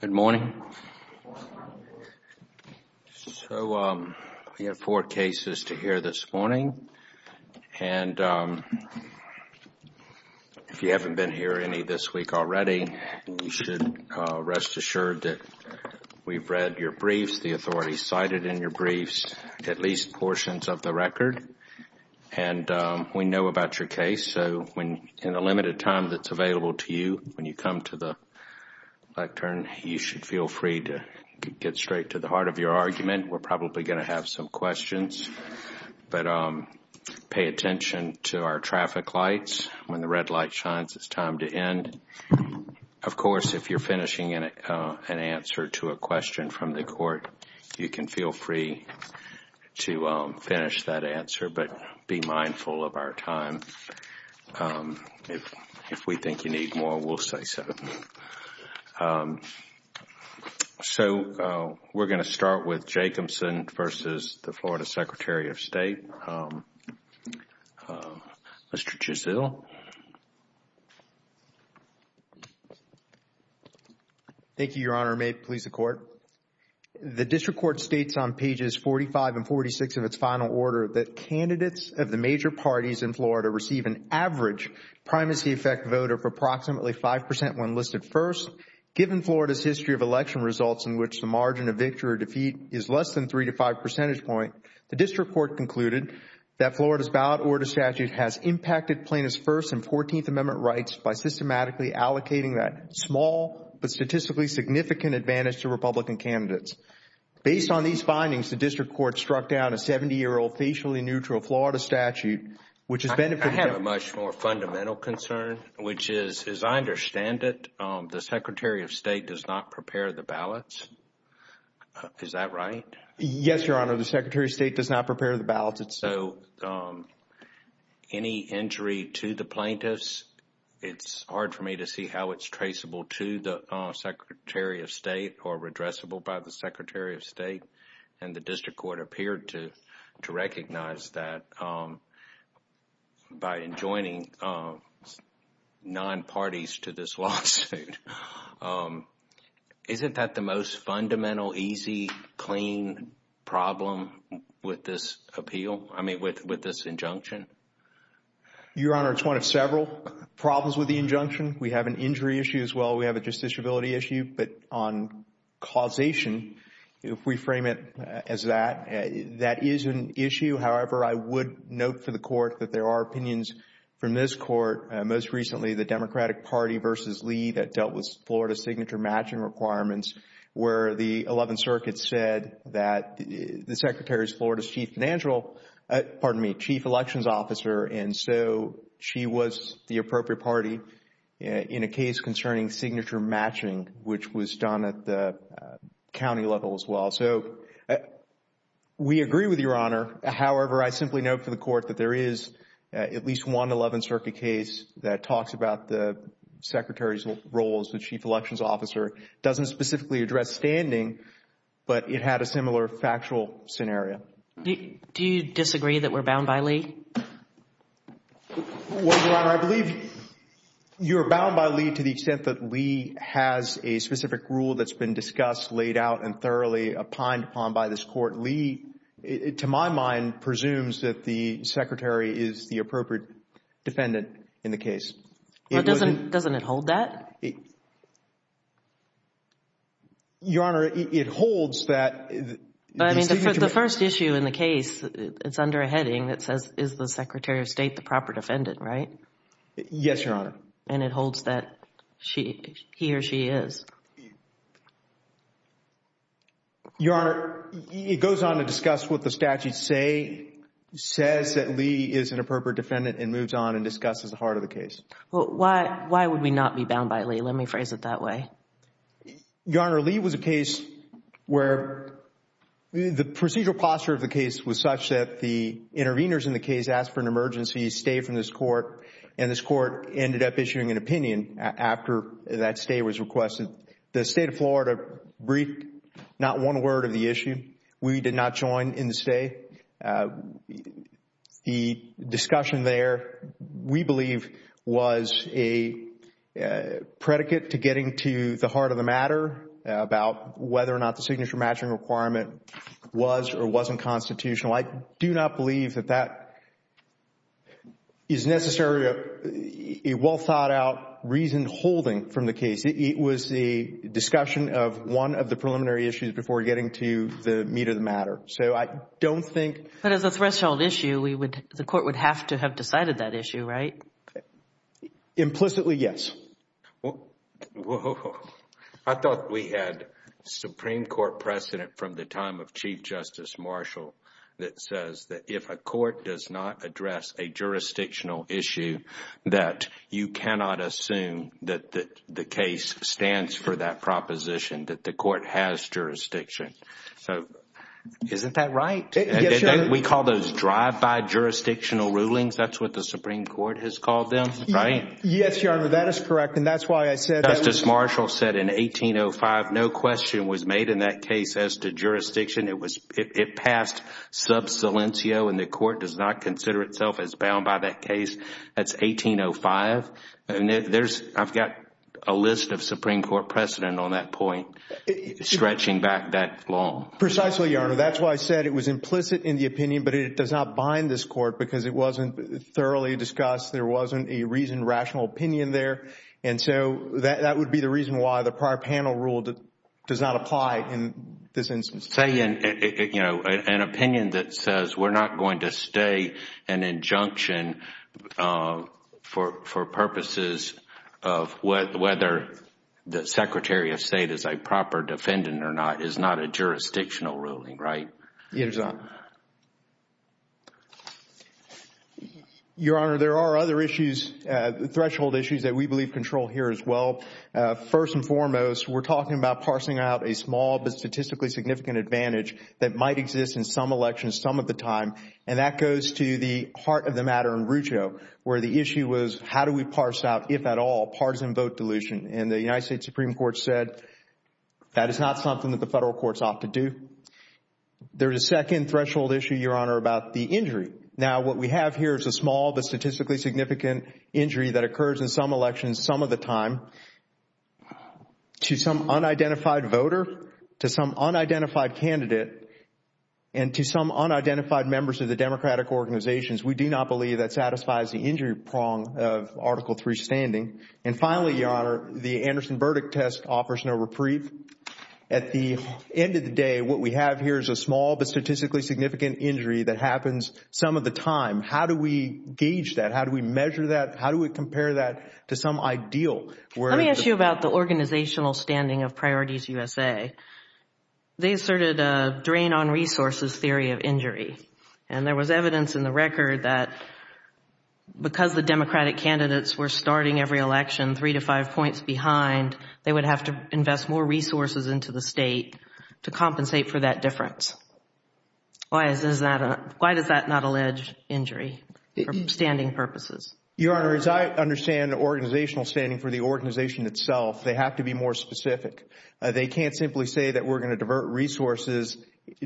Good morning, so we have four cases to hear this morning, and if you haven't been here any this week already, you should rest assured that we've read your briefs, the authorities cited in your briefs, at least portions of the record. And we know about your case, so in the limited time that's available to you, when you come to the lectern, you should feel free to get straight to the heart of your argument. We're probably going to have some questions, but pay attention to our traffic lights. When the red light shines, it's time to end. Of course, if you're finishing an answer to a question from the court, you can feel free to finish that answer, but be mindful of our time. If we think you need more, we'll say so. So we're going to start with Jacobson v. Florida Secretary of State. Mr. Jusil. Thank you, Your Honor. May it please the Court. The district court states on pages 45 and 46 of its final order that candidates of the major parties in Florida receive an average primacy effect voter for approximately 5% when listed first. Given Florida's history of election results in which the margin of victory or defeat is less than three to five percentage point, the district court concluded that Florida's ballot order statute has impacted plaintiffs' first and 14th Amendment rights by systematically allocating that small but statistically significant advantage to Republican candidates. Based on these findings, the district court struck down a 70-year-old, facially neutral Florida statute, which has benefited... I have a much more fundamental concern, which is, as I understand it, the Secretary of State does not prepare the ballots. Is that right? Yes, Your Honor. The Secretary of State does not prepare the ballots. So any injury to the plaintiffs, it's hard for me to see how it's traceable to the Secretary of State or redressable by the Secretary of State, and the district court appeared to recognize that by enjoining non-parties to this lawsuit. Isn't that the most fundamental, easy, clean problem with this injunction? Your Honor, it's one of several problems with the injunction. We have an injury issue as well. We have a justiciability issue, but on causation, if we frame it as that, that is an issue. However, I would note for the court that there are opinions from this court, most recently, the Democratic Party versus Lee that dealt with Florida's signature matching requirements, where the 11th Circuit said that the Secretary is Florida's chief financial, pardon me, chief elections officer, and so she was the appropriate party in a case concerning signature matching, which was done at the county level as well. So we agree with Your Honor. However, I simply note for the court that there is at least one 11th Circuit case that talks about the Secretary's role as the chief elections officer. It doesn't specifically address standing, but it had a similar factual scenario. Do you disagree that we're bound by Lee? Well, Your Honor, I believe you're bound by Lee to the extent that Lee has a specific rule that's been discussed, laid out, and thoroughly opined upon by this court. Lee, to my mind, presumes that the Secretary is the appropriate defendant in the case. Well, doesn't it hold that? Your Honor, it holds that the signature... The first issue in the case, it's under a heading that says, is the Secretary of State the proper defendant, right? Yes, Your Honor. And it holds that he or she is. Your Honor, it goes on to discuss what the statute says that Lee is an appropriate defendant and moves on and discusses the heart of the case. Well, why would we not be that way? Your Honor, Lee was a case where the procedural posture of the case was such that the intervenors in the case asked for an emergency stay from this court, and this court ended up issuing an opinion after that stay was requested. The State of Florida briefed not one word of the to the heart of the matter about whether or not the signature matching requirement was or wasn't constitutional. I do not believe that that is necessarily a well-thought-out reason holding from the case. It was a discussion of one of the preliminary issues before getting to the meat of the matter. So I don't think... But as a threshold issue, the court would have to decided that issue, right? Implicitly, yes. I thought we had Supreme Court precedent from the time of Chief Justice Marshall that says that if a court does not address a jurisdictional issue, that you cannot assume that the case stands for that proposition, that the court has jurisdiction. So isn't that right? Yes, Your Honor. We call those drive-by jurisdictional rulings. That's what the Supreme Court has called them, right? Yes, Your Honor. That is correct, and that's why I said... Justice Marshall said in 1805, no question was made in that case as to jurisdiction. It passed sub silentio, and the court does not consider itself as bound by that case. That's 1805. There's... I've got a list of Supreme Court precedent on that point, stretching back that long. Precisely, Your Honor. That's why I said it was implicit in the opinion, but it does not bind this court because it wasn't thoroughly discussed. There wasn't a reasoned, rational opinion there, and so that would be the reason why the prior panel rule does not apply in this instance. Say an opinion that says we're not going to stay an injunction for purposes of whether the Secretary of State is a proper defendant or not, is not a jurisdictional ruling, right? Yes, Your Honor. Your Honor, there are other issues, threshold issues that we believe control here as well. First and foremost, we're talking about parsing out a small but statistically significant advantage that might exist in some elections some of the time, and that goes to the heart of the matter in Rucho, where the issue was how do we parse out, if at all, partisan vote dilution, and the United States Supreme Court said that is not something that the federal court's ought to do. There's a second threshold issue, Your Honor, about the injury. Now, what we have here is a small but statistically significant injury that occurs in some elections some of the time. To some unidentified voter, to some unidentified candidate, and to some unidentified members of the democratic organizations, we do not believe that satisfies the injury prong of Article III standing. And finally, Your Honor, the Anderson verdict test offers no reprieve. At the end of the day, what we have here is a small but statistically significant injury that happens some of the time. How do we gauge that? How do we measure that? How do we compare that to some ideal? Let me ask you about the organizational standing of Priorities USA. They asserted a drain on resources theory of injury, and there was evidence in the record that because the democratic candidates were starting every election three to five points behind, they would have to invest more resources into the state to compensate for that difference. Why does that not allege injury for standing purposes? Your Honor, as I understand organizational standing for the organization itself, they have to be more specific. They can't simply say that we're going to divert resources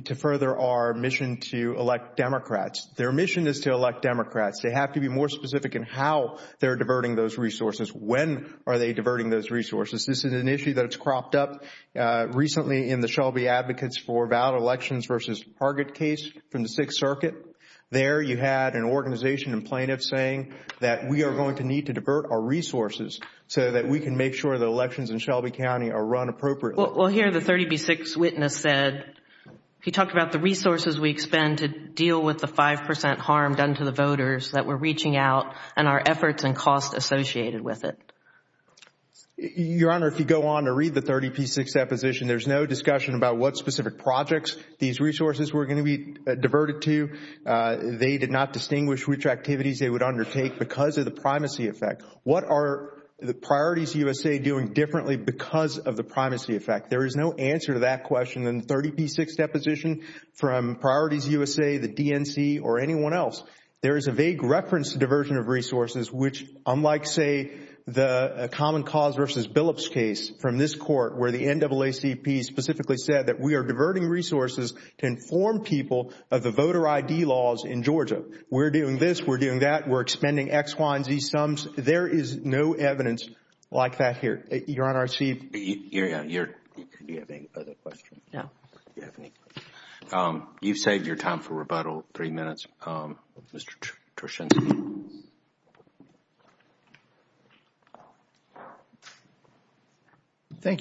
to further our mission to elect Democrats. Their mission is to elect Democrats. They have to be more specific in how they're diverting those resources. When are they diverting those resources? This is an issue that's cropped up recently in the Shelby Advocates for Valid Elections versus Target case from the Sixth Circuit. There you had an organization and plaintiffs saying that we are going to need to divert our resources so that we can make sure the elections in Shelby County are run appropriately. Well, here the 30B6 witness said, he talked about the resources we expend to deal with the five percent harm done to the voters that we're reaching out and our efforts and costs associated with it. Your Honor, if you go on to read the 30B6 deposition, there's no discussion about what specific projects these resources were going to be diverted to. They did not distinguish which activities they would undertake because of the primacy effect. What are the Priorities USA doing differently because of the primacy effect? There is no answer to that question in the 30B6 deposition from Priorities USA, the DNC or anyone else. There is a vague reference to diversion of resources which unlike, say, the Common Cause versus Billups case from this court where the NAACP specifically said that we are diverting resources to inform people of the voter ID laws in Georgia. We're doing this, we're doing that, we're expending X, Y, and Z sums. There is no evidence like that here. Your Honor, I see... Thank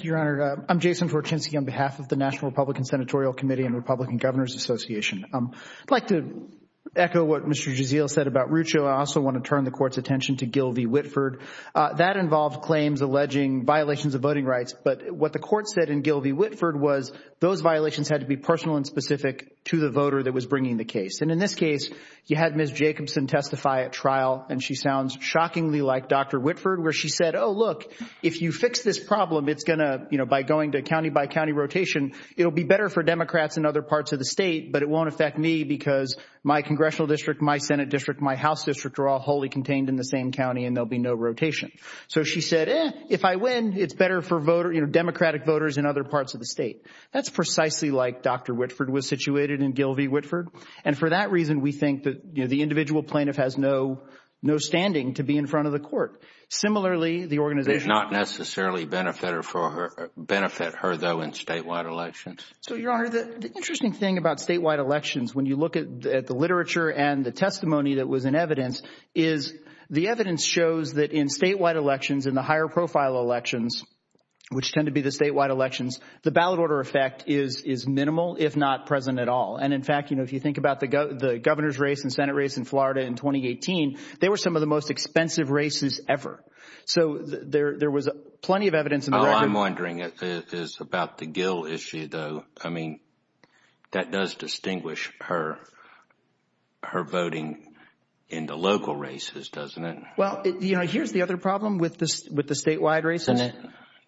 you, Your Honor. I'm Jason Torczynski on behalf of the National Republican Senatorial Committee and Republican Governors Association. I'd like to echo what Mr. Gisiel said about Rucho. I also want to turn the Court's attention to Gil v. Whitford. That involved claims alleging violations of voting rights, but what the Court said in Gil v. Whitford was those violations had to be personal and specific to the voter that was bringing the case. And in this case, you had Ms. Jacobson testify at trial, and she sounds very confident that she was bringing the shockingly like Dr. Whitford where she said, oh, look, if you fix this problem, it's going to, you know, by going to county by county rotation, it'll be better for Democrats in other parts of the state, but it won't affect me because my Congressional District, my Senate District, my House District are all wholly contained in the same county and there'll be no rotation. So she said, eh, if I win, it's better for Democratic voters in other parts of the state. That's precisely like Dr. Whitford was situated in Gil v. Whitford. And for that reason, we think that the individual plaintiff has no standing to be in front of the Court. Similarly, the organization Does not necessarily benefit her though in statewide elections? So, Your Honor, the interesting thing about statewide elections, when you look at the literature and the testimony that was in evidence, is the evidence shows that in statewide elections, in the higher profile elections, which tend to be the statewide elections, the ballot order effect is minimal, if not present at all. And in fact, you know, if you think about the governor's race and Senate race in Florida in 2018, they were some of the most expensive races ever. So there was plenty of evidence in the record. All I'm wondering is about the Gil issue, though. I mean, that does distinguish her voting in the local races, doesn't it? Well, you know, here's the other problem with the statewide races.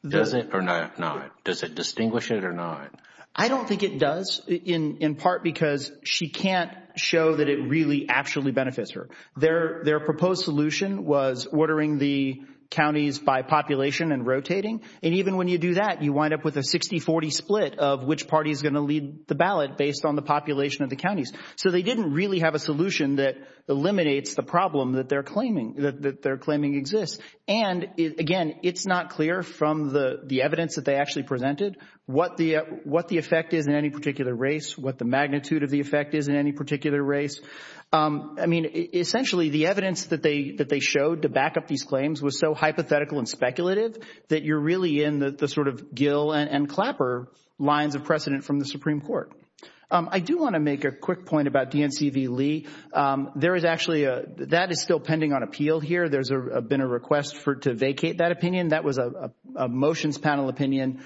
Does it or not? Does it distinguish it or not? I don't think it does, in part because she can't show that it really actually benefits her. Their proposed solution was ordering the counties by population and rotating. And even when you do that, you wind up with a 60-40 split of which party is going to lead the ballot based on the population of the counties. So they didn't really have a solution that eliminates the problem that they're claiming exists. And again, it's not clear from the evidence that they actually presented what the effect is in any particular race, what the magnitude of the effect is in any particular race. I mean, essentially, the evidence that they showed to back up these claims was so hypothetical and speculative that you're really in the sort of Gil and Clapper lines of precedent from the Supreme Court. I do want to make a quick point about D.N.C. v. Lee. That is still pending on whether there's been a request to vacate that opinion. That was a motions panel opinion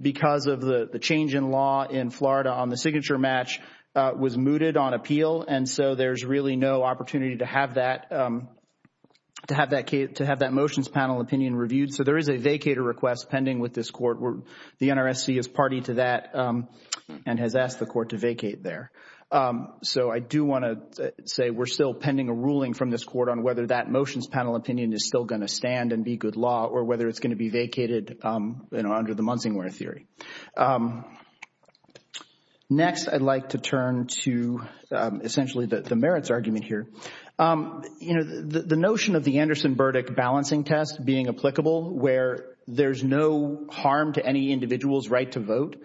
because of the change in law in Florida on the signature match was mooted on appeal. And so there's really no opportunity to have that motions panel opinion reviewed. So there is a vacater request pending with this court. The NRSC is party to that and has asked the court to vacate there. So I do want to say we're still pending a ruling from this court on whether that motions panel opinion is still going to stand and be good law or whether it's going to be vacated under the Munsingware theory. Next, I'd like to turn to essentially the merits argument here. You know, the notion of the Anderson-Burdick balancing test being applicable where there's no harm to any individual's right to vote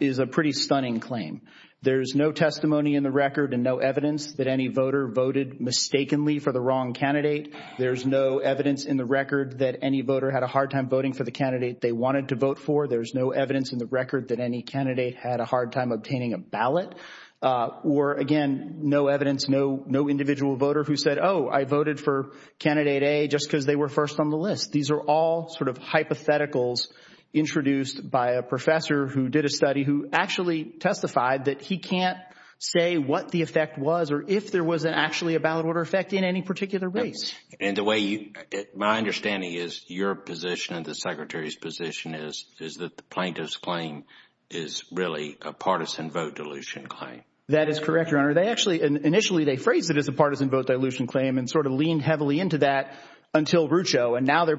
is a pretty stunning claim. There's no testimony in the record and no evidence that any voter voted mistakenly for the wrong candidate. There's no evidence in the record that any voter had a hard time voting for the candidate they wanted to vote for. There's no evidence in the record that any candidate had a hard time obtaining a ballot. Or again, no evidence, no individual voter who said, oh, I voted for candidate A just because they were first on the list. These are all sort of hypotheticals introduced by a professor who did a study who actually testified that he can't say what the effect was or if there was actually a ballot order effect in any particular race. And the way you, my understanding is your position and the Secretary's position is that the plaintiff's claim is really a partisan vote dilution claim. That is correct, Your Honor. They actually, initially they phrased it as a partisan vote dilution claim and sort of leaned heavily into that until Rucho. And now they're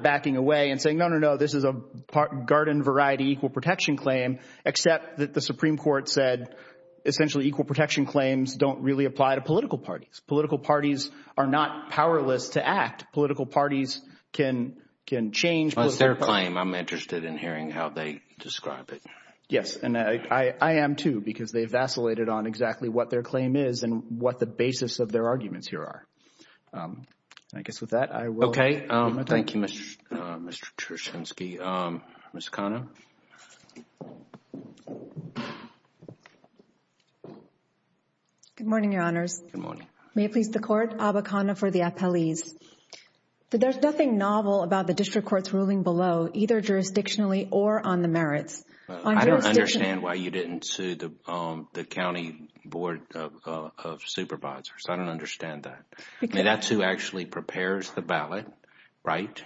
except that the Supreme Court said essentially equal protection claims don't really apply to political parties. Political parties are not powerless to act. Political parties can change. Well, it's their claim. I'm interested in hearing how they describe it. Yes. And I am, too, because they vacillated on exactly what their claim is and what the basis of their arguments here are. I guess with that, I will. Thank you, Mr. Chershensky. Ms. Cano. Good morning, Your Honors. Good morning. May it please the Court, Abba Cano for the appellees. There's nothing novel about the District Court's ruling below, either jurisdictionally or on the merits. I don't understand why you didn't sue the County Board of Supervisors. I don't understand that. I mean, that's who actually prepares the ballot, right?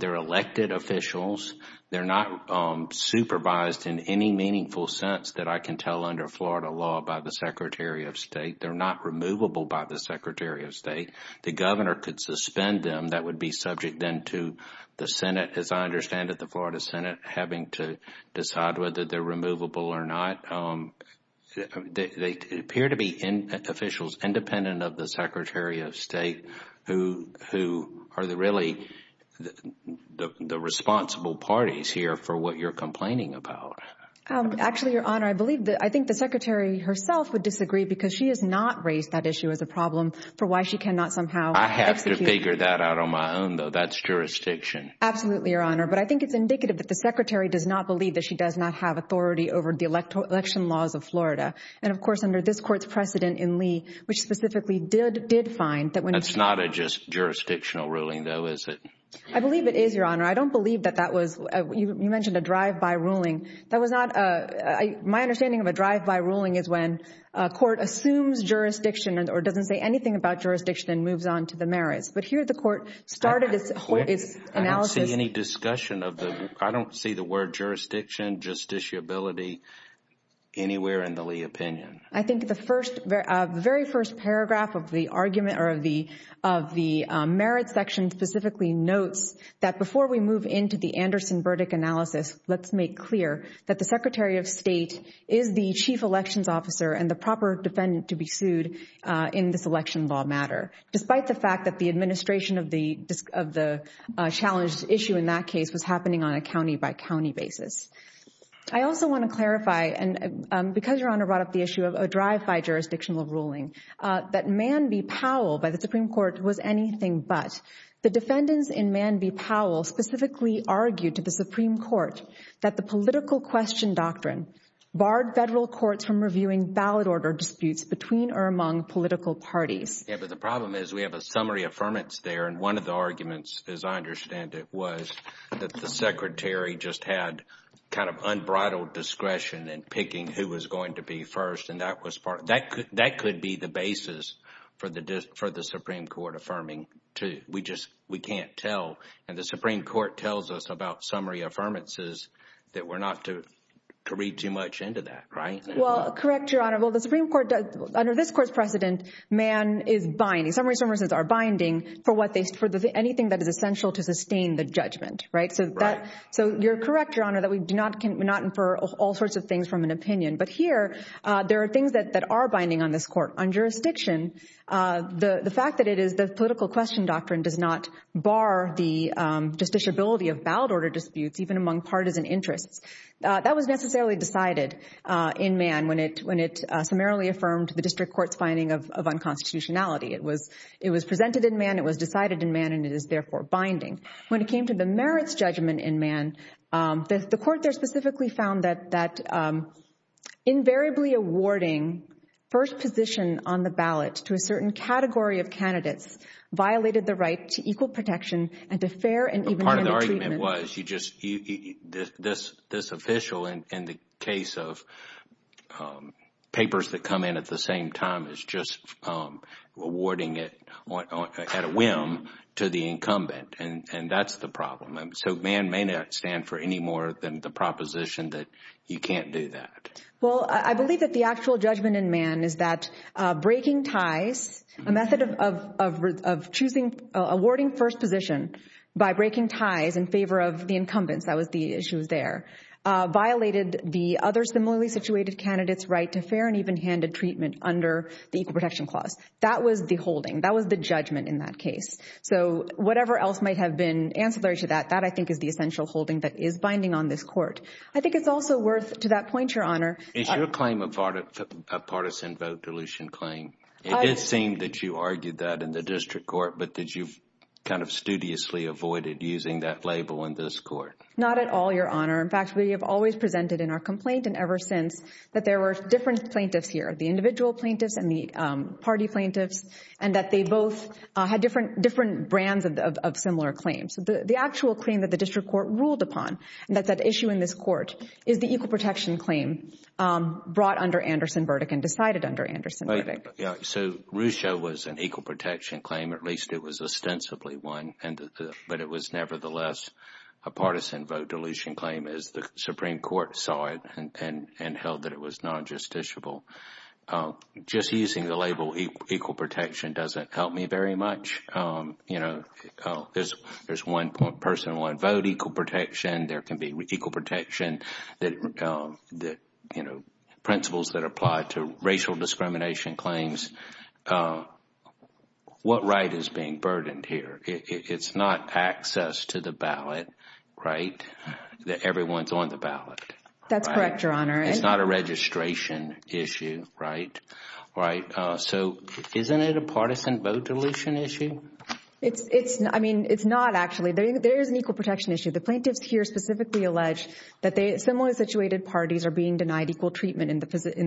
They're elected officials. They're not supervised in any meaningful sense that I can tell under Florida law by the Secretary of State. They're not removable by the Secretary of State. The governor could suspend them. That would be subject then to the Senate, as I understand it, the Florida Senate having to decide whether they're removable or not. They appear to be officials independent of the Secretary of State who are really the responsible parties here for what you're complaining about. Actually, Your Honor, I think the Secretary herself would disagree because she has not raised that issue as a problem for why she cannot somehow execute. I have to figure that out on my own, though. That's jurisdiction. Absolutely, Your Honor, but I think it's indicative that the Secretary does not believe that she does not have authority over the election laws of Florida. Of course, under this Court's precedent in Lee, which specifically did find that when— That's not a just jurisdictional ruling, though, is it? I believe it is, Your Honor. I don't believe that that was—you mentioned a drive-by ruling. That was not a—my understanding of a drive-by ruling is when a court assumes jurisdiction or doesn't say anything about jurisdiction and moves on to the merits. But here, the Court started its analysis— I don't see any discussion of the—I don't see the word jurisdiction, justiciability anywhere in the Lee opinion. I think the first—the very first paragraph of the argument or of the merits section specifically notes that before we move into the Anderson verdict analysis, let's make clear that the Secretary of State is the chief elections officer and the proper defendant to be sued in this election law matter, despite the fact that the administration of the challenge issue in that case was happening on a county-by-county basis. I also want to clarify, and because Your Honor brought up the issue of a drive-by jurisdictional ruling, that Man v. Powell by the Supreme Court was anything but. The defendants in Man v. Powell specifically argued to the Supreme Court that the political question doctrine barred federal courts from reviewing ballot order disputes between or among political parties. Yeah, but the problem is we have a summary affirmance there, and one of the arguments, as I understand it, was that the Secretary just had kind of unbridled discretion in picking who was going to be first, and that could be the basis for the Supreme Court affirming to—we just—we can't tell. And the Supreme Court tells us about summary affirmances that we're not to read too much into that, right? Well, correct, Your Honor. Well, the Supreme Court—under this Court's precedent, Man is binding—summary affirmances are binding for what they—for anything that is essential to sustain the judgment, right? So that—so you're correct, Your Honor, that we do not infer all sorts of things from an opinion. But here, there are things that are binding on this Court. On jurisdiction, the fact that it is the political question doctrine does not bar the justiciability of ballot order disputes, even among partisan interests. That was necessarily decided in Man when it summarily affirmed the District Court's finding of unconstitutionality. It was presented in Man, it was decided in Man, and it is therefore binding. When it came to the merits judgment in Man, the Court there specifically found that invariably awarding first position on the ballot to a certain category of candidates violated the right to equal protection and to fair and— you—this official, in the case of papers that come in at the same time, is just awarding it at a whim to the incumbent, and that's the problem. And so Man may not stand for any more than the proposition that you can't do that. Well, I believe that the actual judgment in Man is that breaking ties, a method of choosing—awarding first position by breaking ties in favor of the incumbents—that was the issue there—violated the other similarly situated candidate's right to fair and even-handed treatment under the Equal Protection Clause. That was the holding. That was the judgment in that case. So whatever else might have been ancillary to that, that I think is the essential holding that is binding on this Court. I think it's also worth—to that point, Your Honor— Is your claim a partisan vote dilution claim? It did seem that you argued that in the District Court, but that you've kind of studiously avoided using that label in this Court. Not at all, Your Honor. In fact, we have always presented in our complaint, and ever since, that there were different plaintiffs here—the individual plaintiffs and the party plaintiffs—and that they both had different brands of similar claims. The actual claim that the District Court ruled upon, and that's at issue in this Court, is the Equal Protection Claim brought under Anderson's verdict and decided under Anderson's verdict. So Ruscha was an Equal Protection Claim. At least it was ostensibly one, but it was nevertheless a partisan vote dilution claim as the Supreme Court saw it and held that it was non-justiciable. Just using the label Equal Protection doesn't help me very much. There's one-person, one-vote equal protection. There can be equal protection that—principles that apply to racial discrimination claims. What right is being burdened here? It's not access to the ballot, right? That everyone's on the ballot. That's correct, Your Honor. It's not a registration issue, right? So isn't it a partisan vote dilution issue? It's not, actually. There is an equal protection issue. The plaintiffs here specifically allege that similarly situated parties are being denied equal treatment in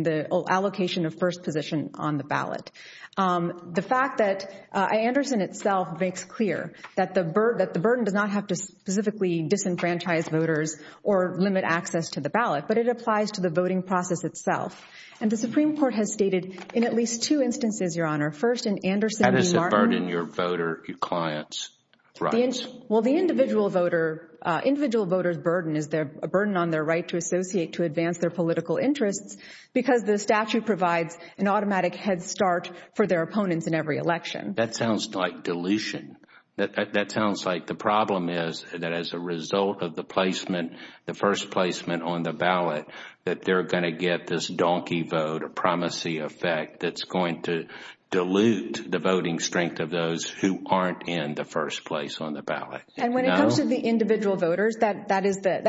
the allocation of first position on the ballot. The fact that Anderson itself makes clear that the burden does not have to specifically disenfranchise voters or limit access to the ballot, but it applies to the voting process itself. And the Supreme Court has stated in at least two instances, Your Honor. First, in Anderson v. Martin— How does it burden your voter clients' rights? Well, the individual voter's burden is a burden on their right to associate, to advance their political interests, because the statute provides an automatic head start for their opponents in every election. That sounds like dilution. That sounds like the problem is that as a result of the placement, the first placement on the ballot, that they're going to get this donkey vote or primacy effect that's going to dilute the voting strength of those who aren't in the first place on the ballot. And when it comes to the individual voters, that is the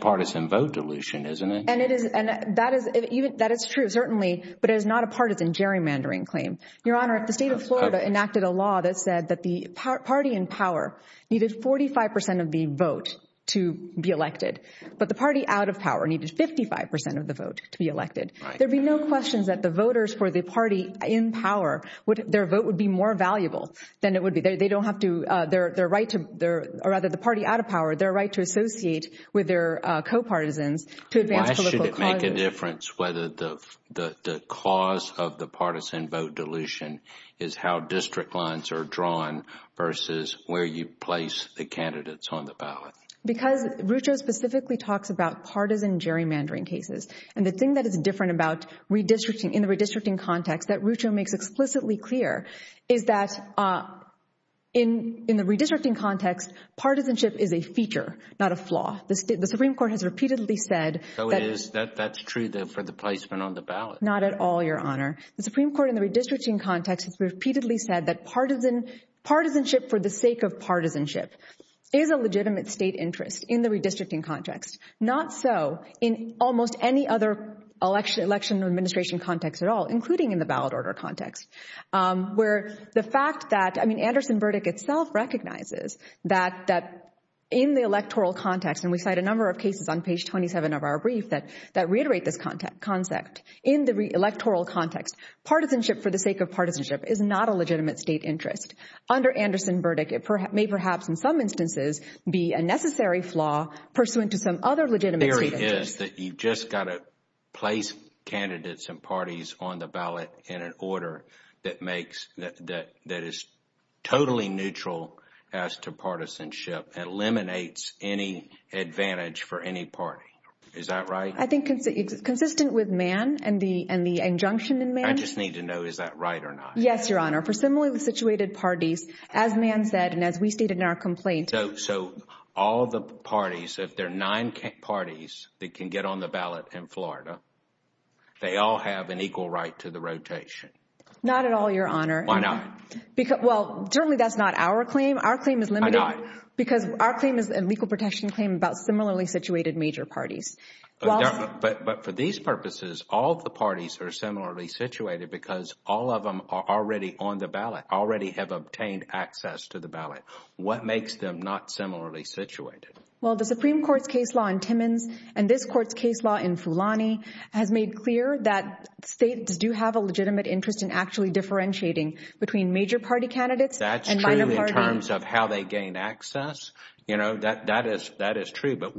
partisan vote dilution, isn't it? And that is true, certainly, but it is not a partisan gerrymandering claim. Your Honor, the state of Florida enacted a law that said that the party in power needed 45 percent of the vote to be elected, but the party out of power needed 55 percent of the vote to be elected. There'd be no questions that the voters for the party in power, their vote would be more valuable than it would be. They don't have to, their right to, or rather the party out of power, their right to associate with their co-partisans to advance political causes. Why should it make a difference whether the cause of the partisan vote dilution is how district lines are drawn versus where you place the candidates on the ballot? Because Rucho specifically talks about partisan gerrymandering cases, and the thing that is different about redistricting, in the redistricting context, that Rucho makes explicitly clear, is that in the redistricting context, partisanship is a feature, not a flaw. The Supreme Court has repeatedly said- So it is, that's true for the placement on the ballot. Not at all, Your Honor. The Supreme Court in the redistricting context has repeatedly said that partisanship for the sake of partisanship is a legitimate state interest in the redistricting context. Not so in almost any other election administration context at all, including in the ballot order context, where the fact that, I mean, Anderson-Burdick itself recognizes that in the electoral context, and we cite a number of cases on page 27 of our brief that that reiterate this concept. In the electoral context, partisanship for the sake of partisanship is not a legitimate state interest. Under Anderson-Burdick, it may perhaps in some instances be a necessary flaw pursuant to some other legitimate state interest. You've just got to place candidates and parties on the ballot in an order that is totally neutral as to partisanship and eliminates any advantage for any party. Is that right? I think it's consistent with Mann and the injunction in Mann. I just need to know, is that right or not? Yes, Your Honor. For similarly situated parties, as Mann said, and as we stated in our complaint- So all the parties, if there are nine parties that can get on the ballot in Florida, they all have an equal right to the rotation. Not at all, Your Honor. Why not? Well, certainly that's not our claim. Our claim is limited- Why not? Because our claim is a legal protection claim about similarly situated major parties. But for these purposes, all the parties are similarly situated because all of them are already have obtained access to the ballot. What makes them not similarly situated? Well, the Supreme Court's case law in Timmins and this court's case law in Fulani has made clear that states do have a legitimate interest in actually differentiating between major party candidates and minor party- That's true in terms of how they gain access. That is true. But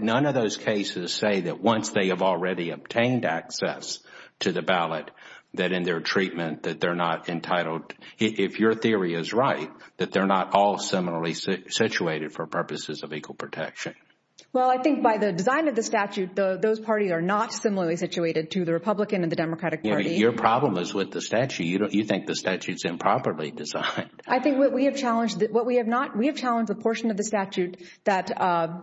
none of those cases say that once they have already obtained access to the ballot, that in their treatment, that they're not entitled, if your theory is right, that they're not all similarly situated for purposes of equal protection. Well, I think by the design of the statute, those parties are not similarly situated to the Republican and the Democratic Party. Your problem is with the statute. You think the statute's improperly designed. I think what we have challenged, what we have not, we have challenged a portion of the statute that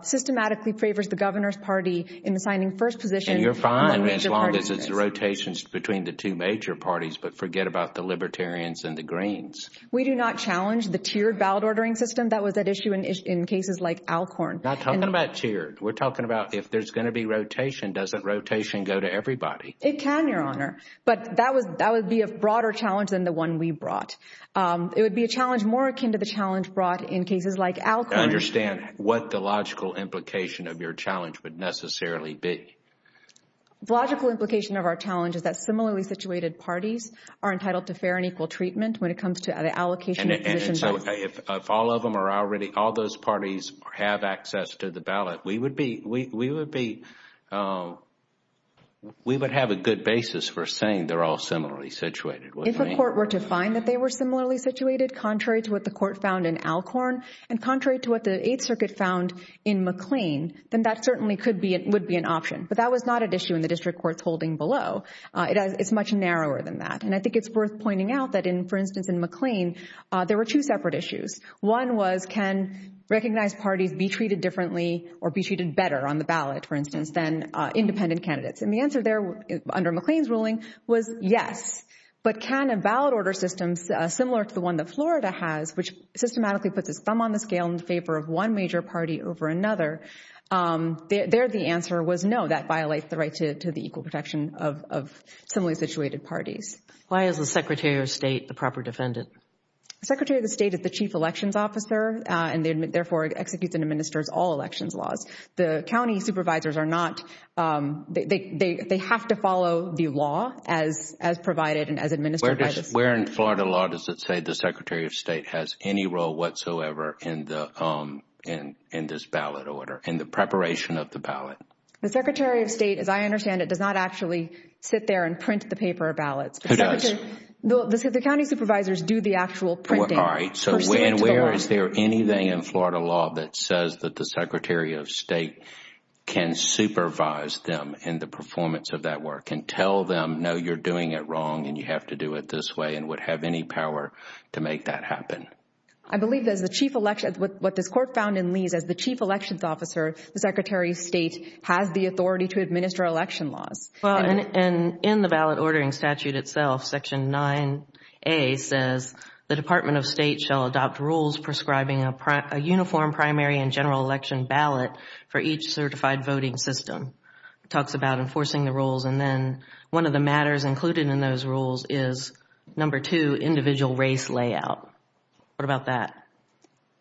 systematically favors the governor's party in assigning first position- And you're fine as long as it's rotations between the two major parties, but forget about the Libertarians and the Greens. We do not challenge the tiered ballot ordering system that was at issue in cases like Alcorn. Not talking about tiered. We're talking about if there's going to be rotation, doesn't rotation go to everybody? It can, Your Honor. But that would be a broader challenge than the one we brought. It would be a challenge more akin to the challenge brought in cases like Alcorn- I understand what the logical implication of your challenge would necessarily be. Logical implication of our challenge is that similarly situated parties are entitled to fair and equal treatment when it comes to the allocation- And so if all of them are already, all those parties have access to the ballot, we would be, we would have a good basis for saying they're all similarly situated. If a court were to find that they were similarly situated, contrary to what the court found in Alcorn, and contrary to what the Eighth Circuit found in McLean, then that certainly could be, would be an option. But that was not at issue in the district courts holding below. It's much narrower than that. And I think it's worth pointing out that in, for instance, in McLean, there were two separate issues. One was can recognized parties be treated differently or be treated better on the ballot, for instance, than independent candidates. And the answer there under McLean's ruling was yes. But can a ballot order system similar to the one that Florida has, which systematically puts its thumb on the scale in favor of one major party over another, there the answer was no. That violates the right to the equal protection of similarly situated parties. Why is the Secretary of State the proper defendant? Secretary of the State is the chief elections officer, and therefore executes and administers all elections laws. The county supervisors are not, they have to follow the law as provided and as administered. Where in Florida law does it say the Secretary of State has any role whatsoever in the, in this ballot order, in the preparation of the ballot? The Secretary of State, as I understand it, does not actually sit there and print the paper ballots. Who does? The county supervisors do the actual printing. All right. So where is there anything in Florida law that says that the Secretary of State can supervise them in the performance of that work and tell them, no, you're doing it wrong and you have to do it this way, and would have any power to make that happen? I believe that as the chief election, what this court found in Lee's, as the chief elections officer, the Secretary of State has the authority to administer election laws. And in the ballot ordering statute itself, section 9a says, the Department of State shall adopt rules prescribing a uniform primary and general election ballot for each certified voting system. It talks about enforcing the rules and then one of the matters included in those rules is number two, individual race layout. What about that?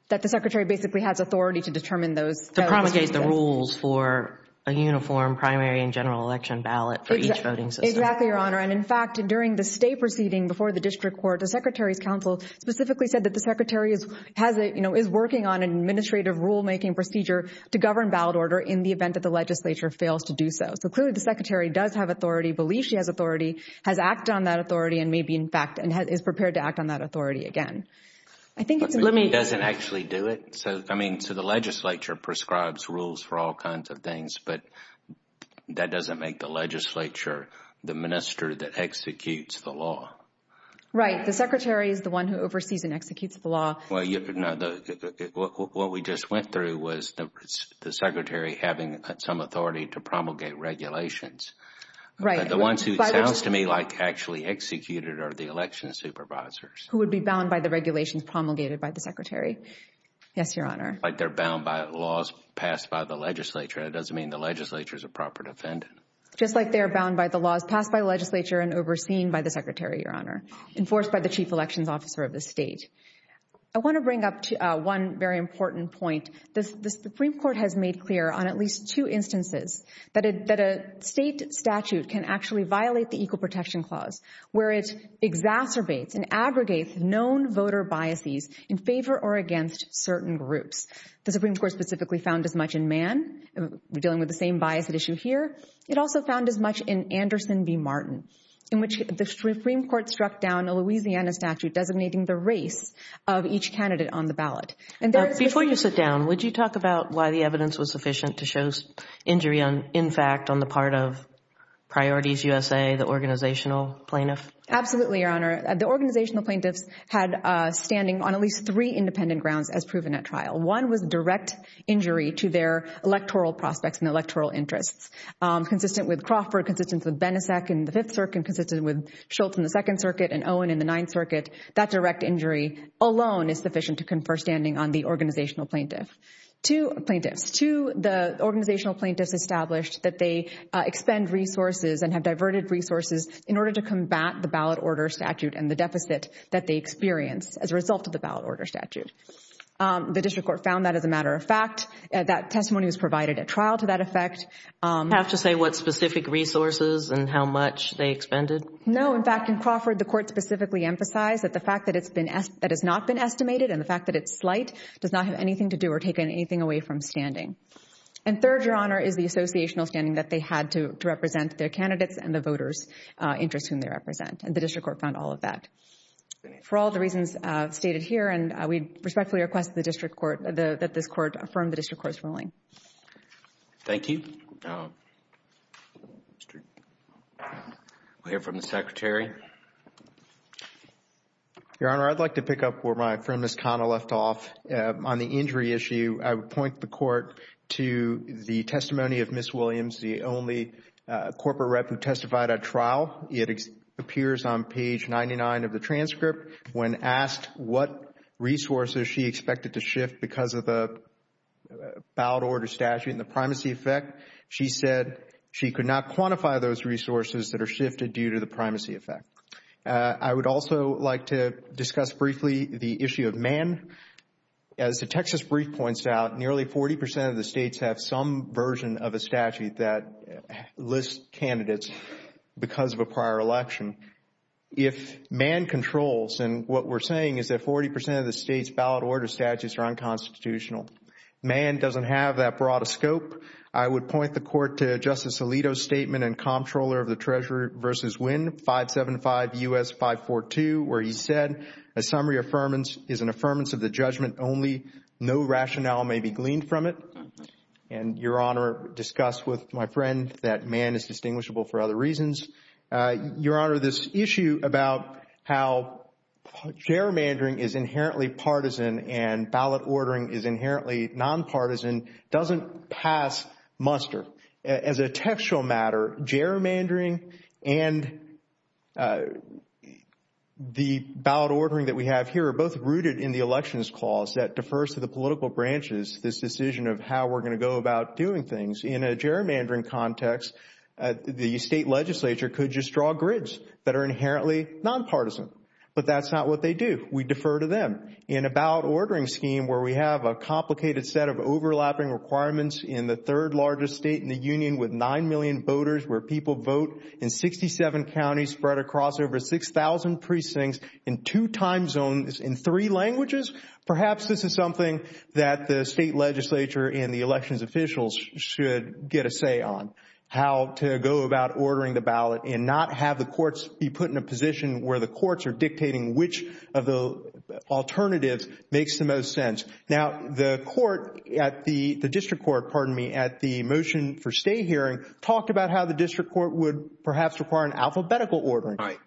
That the Secretary basically has authority to determine those. To promulgate the rules for a uniform primary and general election ballot for each voting system. Exactly, Your Honor. And in fact, during the state proceeding before the district court, the Secretary's counsel specifically said that the Secretary has, you know, is working on an administrative rulemaking procedure to govern ballot order in the event that the legislature fails to do so. So clearly the Secretary does have authority, believes she has authority, has acted on that authority, and maybe in fact is prepared to act on that authority again. I think it's... Let me... Doesn't actually do it? So, I mean, so the legislature prescribes rules for all kinds of things, but that doesn't make the legislature the minister that executes the law. Right. The Secretary is the one who oversees and executes the law. Well, you know, what we just went through was the Secretary having some authority to promulgate regulations. Right. The ones who sounds to me like actually executed are the election supervisors. Who would be bound by the regulations promulgated by the Secretary. Yes, Your Honor. Like they're bound by laws passed by the legislature. It doesn't mean the legislature is a proper defendant. Just like they're bound by the laws passed by the legislature and overseen by the Secretary, Your Honor, enforced by the Chief Elections Officer of the state. I want to bring up one very important point. The Supreme Court has made clear on at least two instances that a state statute can actually violate the Equal Protection Clause where it exacerbates and aggregates known voter biases in favor or against certain groups. The Supreme Court specifically found as much in Mann, dealing with the same bias at issue here. It also found as much in Anderson v. Martin, in which the Supreme Court struck down a Louisiana statute designating the race of each candidate on the ballot. Before you sit down, would you talk about why the evidence was sufficient to show injury, in fact, on the part of Priorities USA, the organizational plaintiff? Absolutely, Your Honor. The organizational plaintiffs had standing on at least three independent grounds as proven at trial. One was direct injury to their electoral prospects and electoral interests. Consistent with Crawford, consistent with Benisek in the Fifth Circuit, consistent with Schultz in the Second Circuit and Owen in the Ninth Circuit. That direct injury alone is sufficient to confer standing on the organizational plaintiff. Two plaintiffs. Two, the organizational plaintiffs established that they expend resources and have diverted resources in order to combat the ballot order statute and the deficit that they experience as a result of the ballot order statute. The district court found that as a matter of fact. That testimony was provided at trial to that effect. Do you have to say what specific resources and how much they expended? No. In fact, in Crawford, the court specifically emphasized that the fact that it's not been estimated and the fact that it's slight does not have anything to do or take anything away from standing. And third, Your Honor, is the associational standing that they had to represent their candidates and the voters' interests whom they represent. And the district court found all of that. For all the reasons stated here and we respectfully request the district court, that this court affirm the district court's ruling. Thank you. We'll hear from the Secretary. Your Honor, I'd like to pick up where my friend, Ms. Connell, left off. On the injury issue, I would point the court to the testimony of Ms. Williams, the only corporate rep who testified at trial. It appears on page 99 of the transcript. When asked what resources she expected to shift because of the ballot order statute and the primacy effect, she said she could not quantify those resources that are shifted due to the primacy effect. I would also like to discuss briefly the issue of man. As the Texas Brief points out, nearly 40 percent of the states have some version of a statute that lists candidates because of a prior election. If man controls, and what we're saying is that 40 percent of the state's ballot order statutes are unconstitutional. Man doesn't have that broad a scope. I would point the court to Justice Alito's statement in Comptroller of the Treasury v. Wynn, 575 U.S. 542, where he said, a summary affirmance is an affirmance of the judgment only. No rationale may be gleaned from it. And, Your Honor, discuss with my friend that man is distinguishable for other reasons. Your Honor, this issue about how gerrymandering is inherently partisan and ballot ordering is inherently nonpartisan doesn't pass muster. As a textual matter, gerrymandering and the ballot ordering that we have here are both rooted in the elections clause that defers to the political branches, this decision of how we're going to go about doing things. In a gerrymandering context, the state legislature could just draw grids that are inherently nonpartisan. But that's not what they do. We defer to them. In a ballot ordering scheme where we have a complicated set of overlapping requirements in the third largest state in the union with 9 million voters, where people vote in 67 counties spread across over 6,000 precincts in two time zones in three languages, perhaps this is something that the state legislature and the elections officials should get a say on. How to go about ordering the ballot and not have the courts be put in a position where the courts are dictating which of the alternatives makes the most sense. Now, the court at the district court, pardon me, at the motion for state hearing talked about how the district court would perhaps require an alphabetical ordering. All right.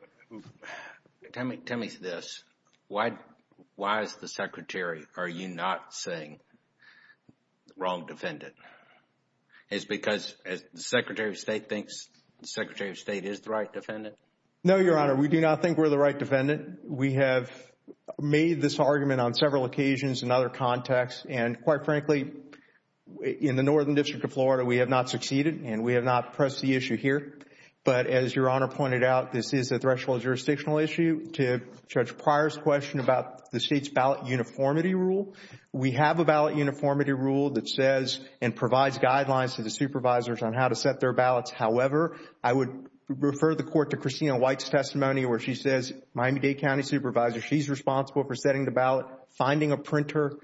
Tell me this. Why is the secretary, are you not saying wrong defendant? Is it because the secretary of state thinks the secretary of state is the right defendant? No, Your Honor. We do not think we're the right defendant. We have made this argument on several occasions in other contexts. And quite frankly, in the Northern District of Florida, we have not succeeded and we have not pressed the issue here. But as Your Honor pointed out, this is a threshold jurisdictional issue to Judge Pryor's question about the state's ballot uniformity rule. We have a ballot uniformity rule that says and provides guidelines to the supervisors on how to set their ballots. However, I would refer the court to Christina White's testimony where she says, Miami-Dade County supervisor, she's responsible for setting the ballot, finding a printer,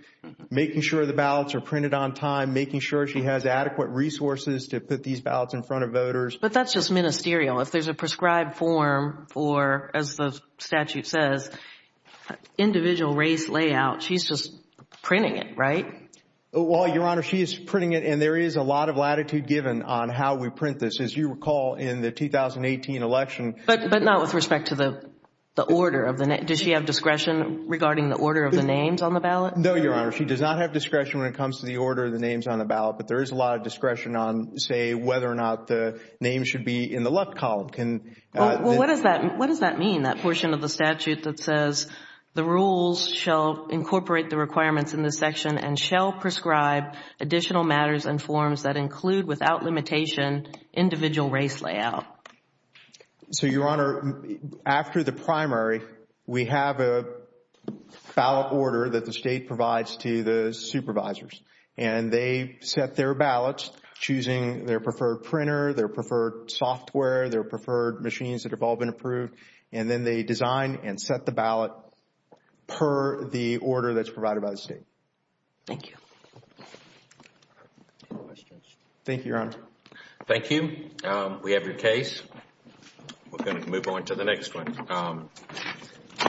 making sure the ballots are printed on time, making sure she has adequate resources to put these ballots in front of voters. But that's just ministerial. If there's a prescribed form for, as the statute says, individual race layout, she's just printing it, right? Well, Your Honor, she is printing it and there is a lot of latitude given on how we print this. As you recall, in the 2018 election. But not with respect to the order of the name. Does she have discretion regarding the order of the names on the ballot? No, Your Honor. She does not have discretion when it comes to the order of the names on the ballot. But there is a lot of discretion on, say, whether or not the name should be in the left column. Well, what does that mean? That portion of the statute that says the rules shall incorporate the requirements in this section and shall prescribe additional matters and forms that include, without limitation, individual race layout. So, Your Honor, after the primary, we have a ballot order that the state provides to the supervisors and they set their ballots choosing their preferred printer, their preferred software, their preferred machines that have all been approved. And then they design and set the ballot per the order that's provided by the state. Thank you. Thank you, Your Honor. Thank you. We have your case. We're going to move on to the next one.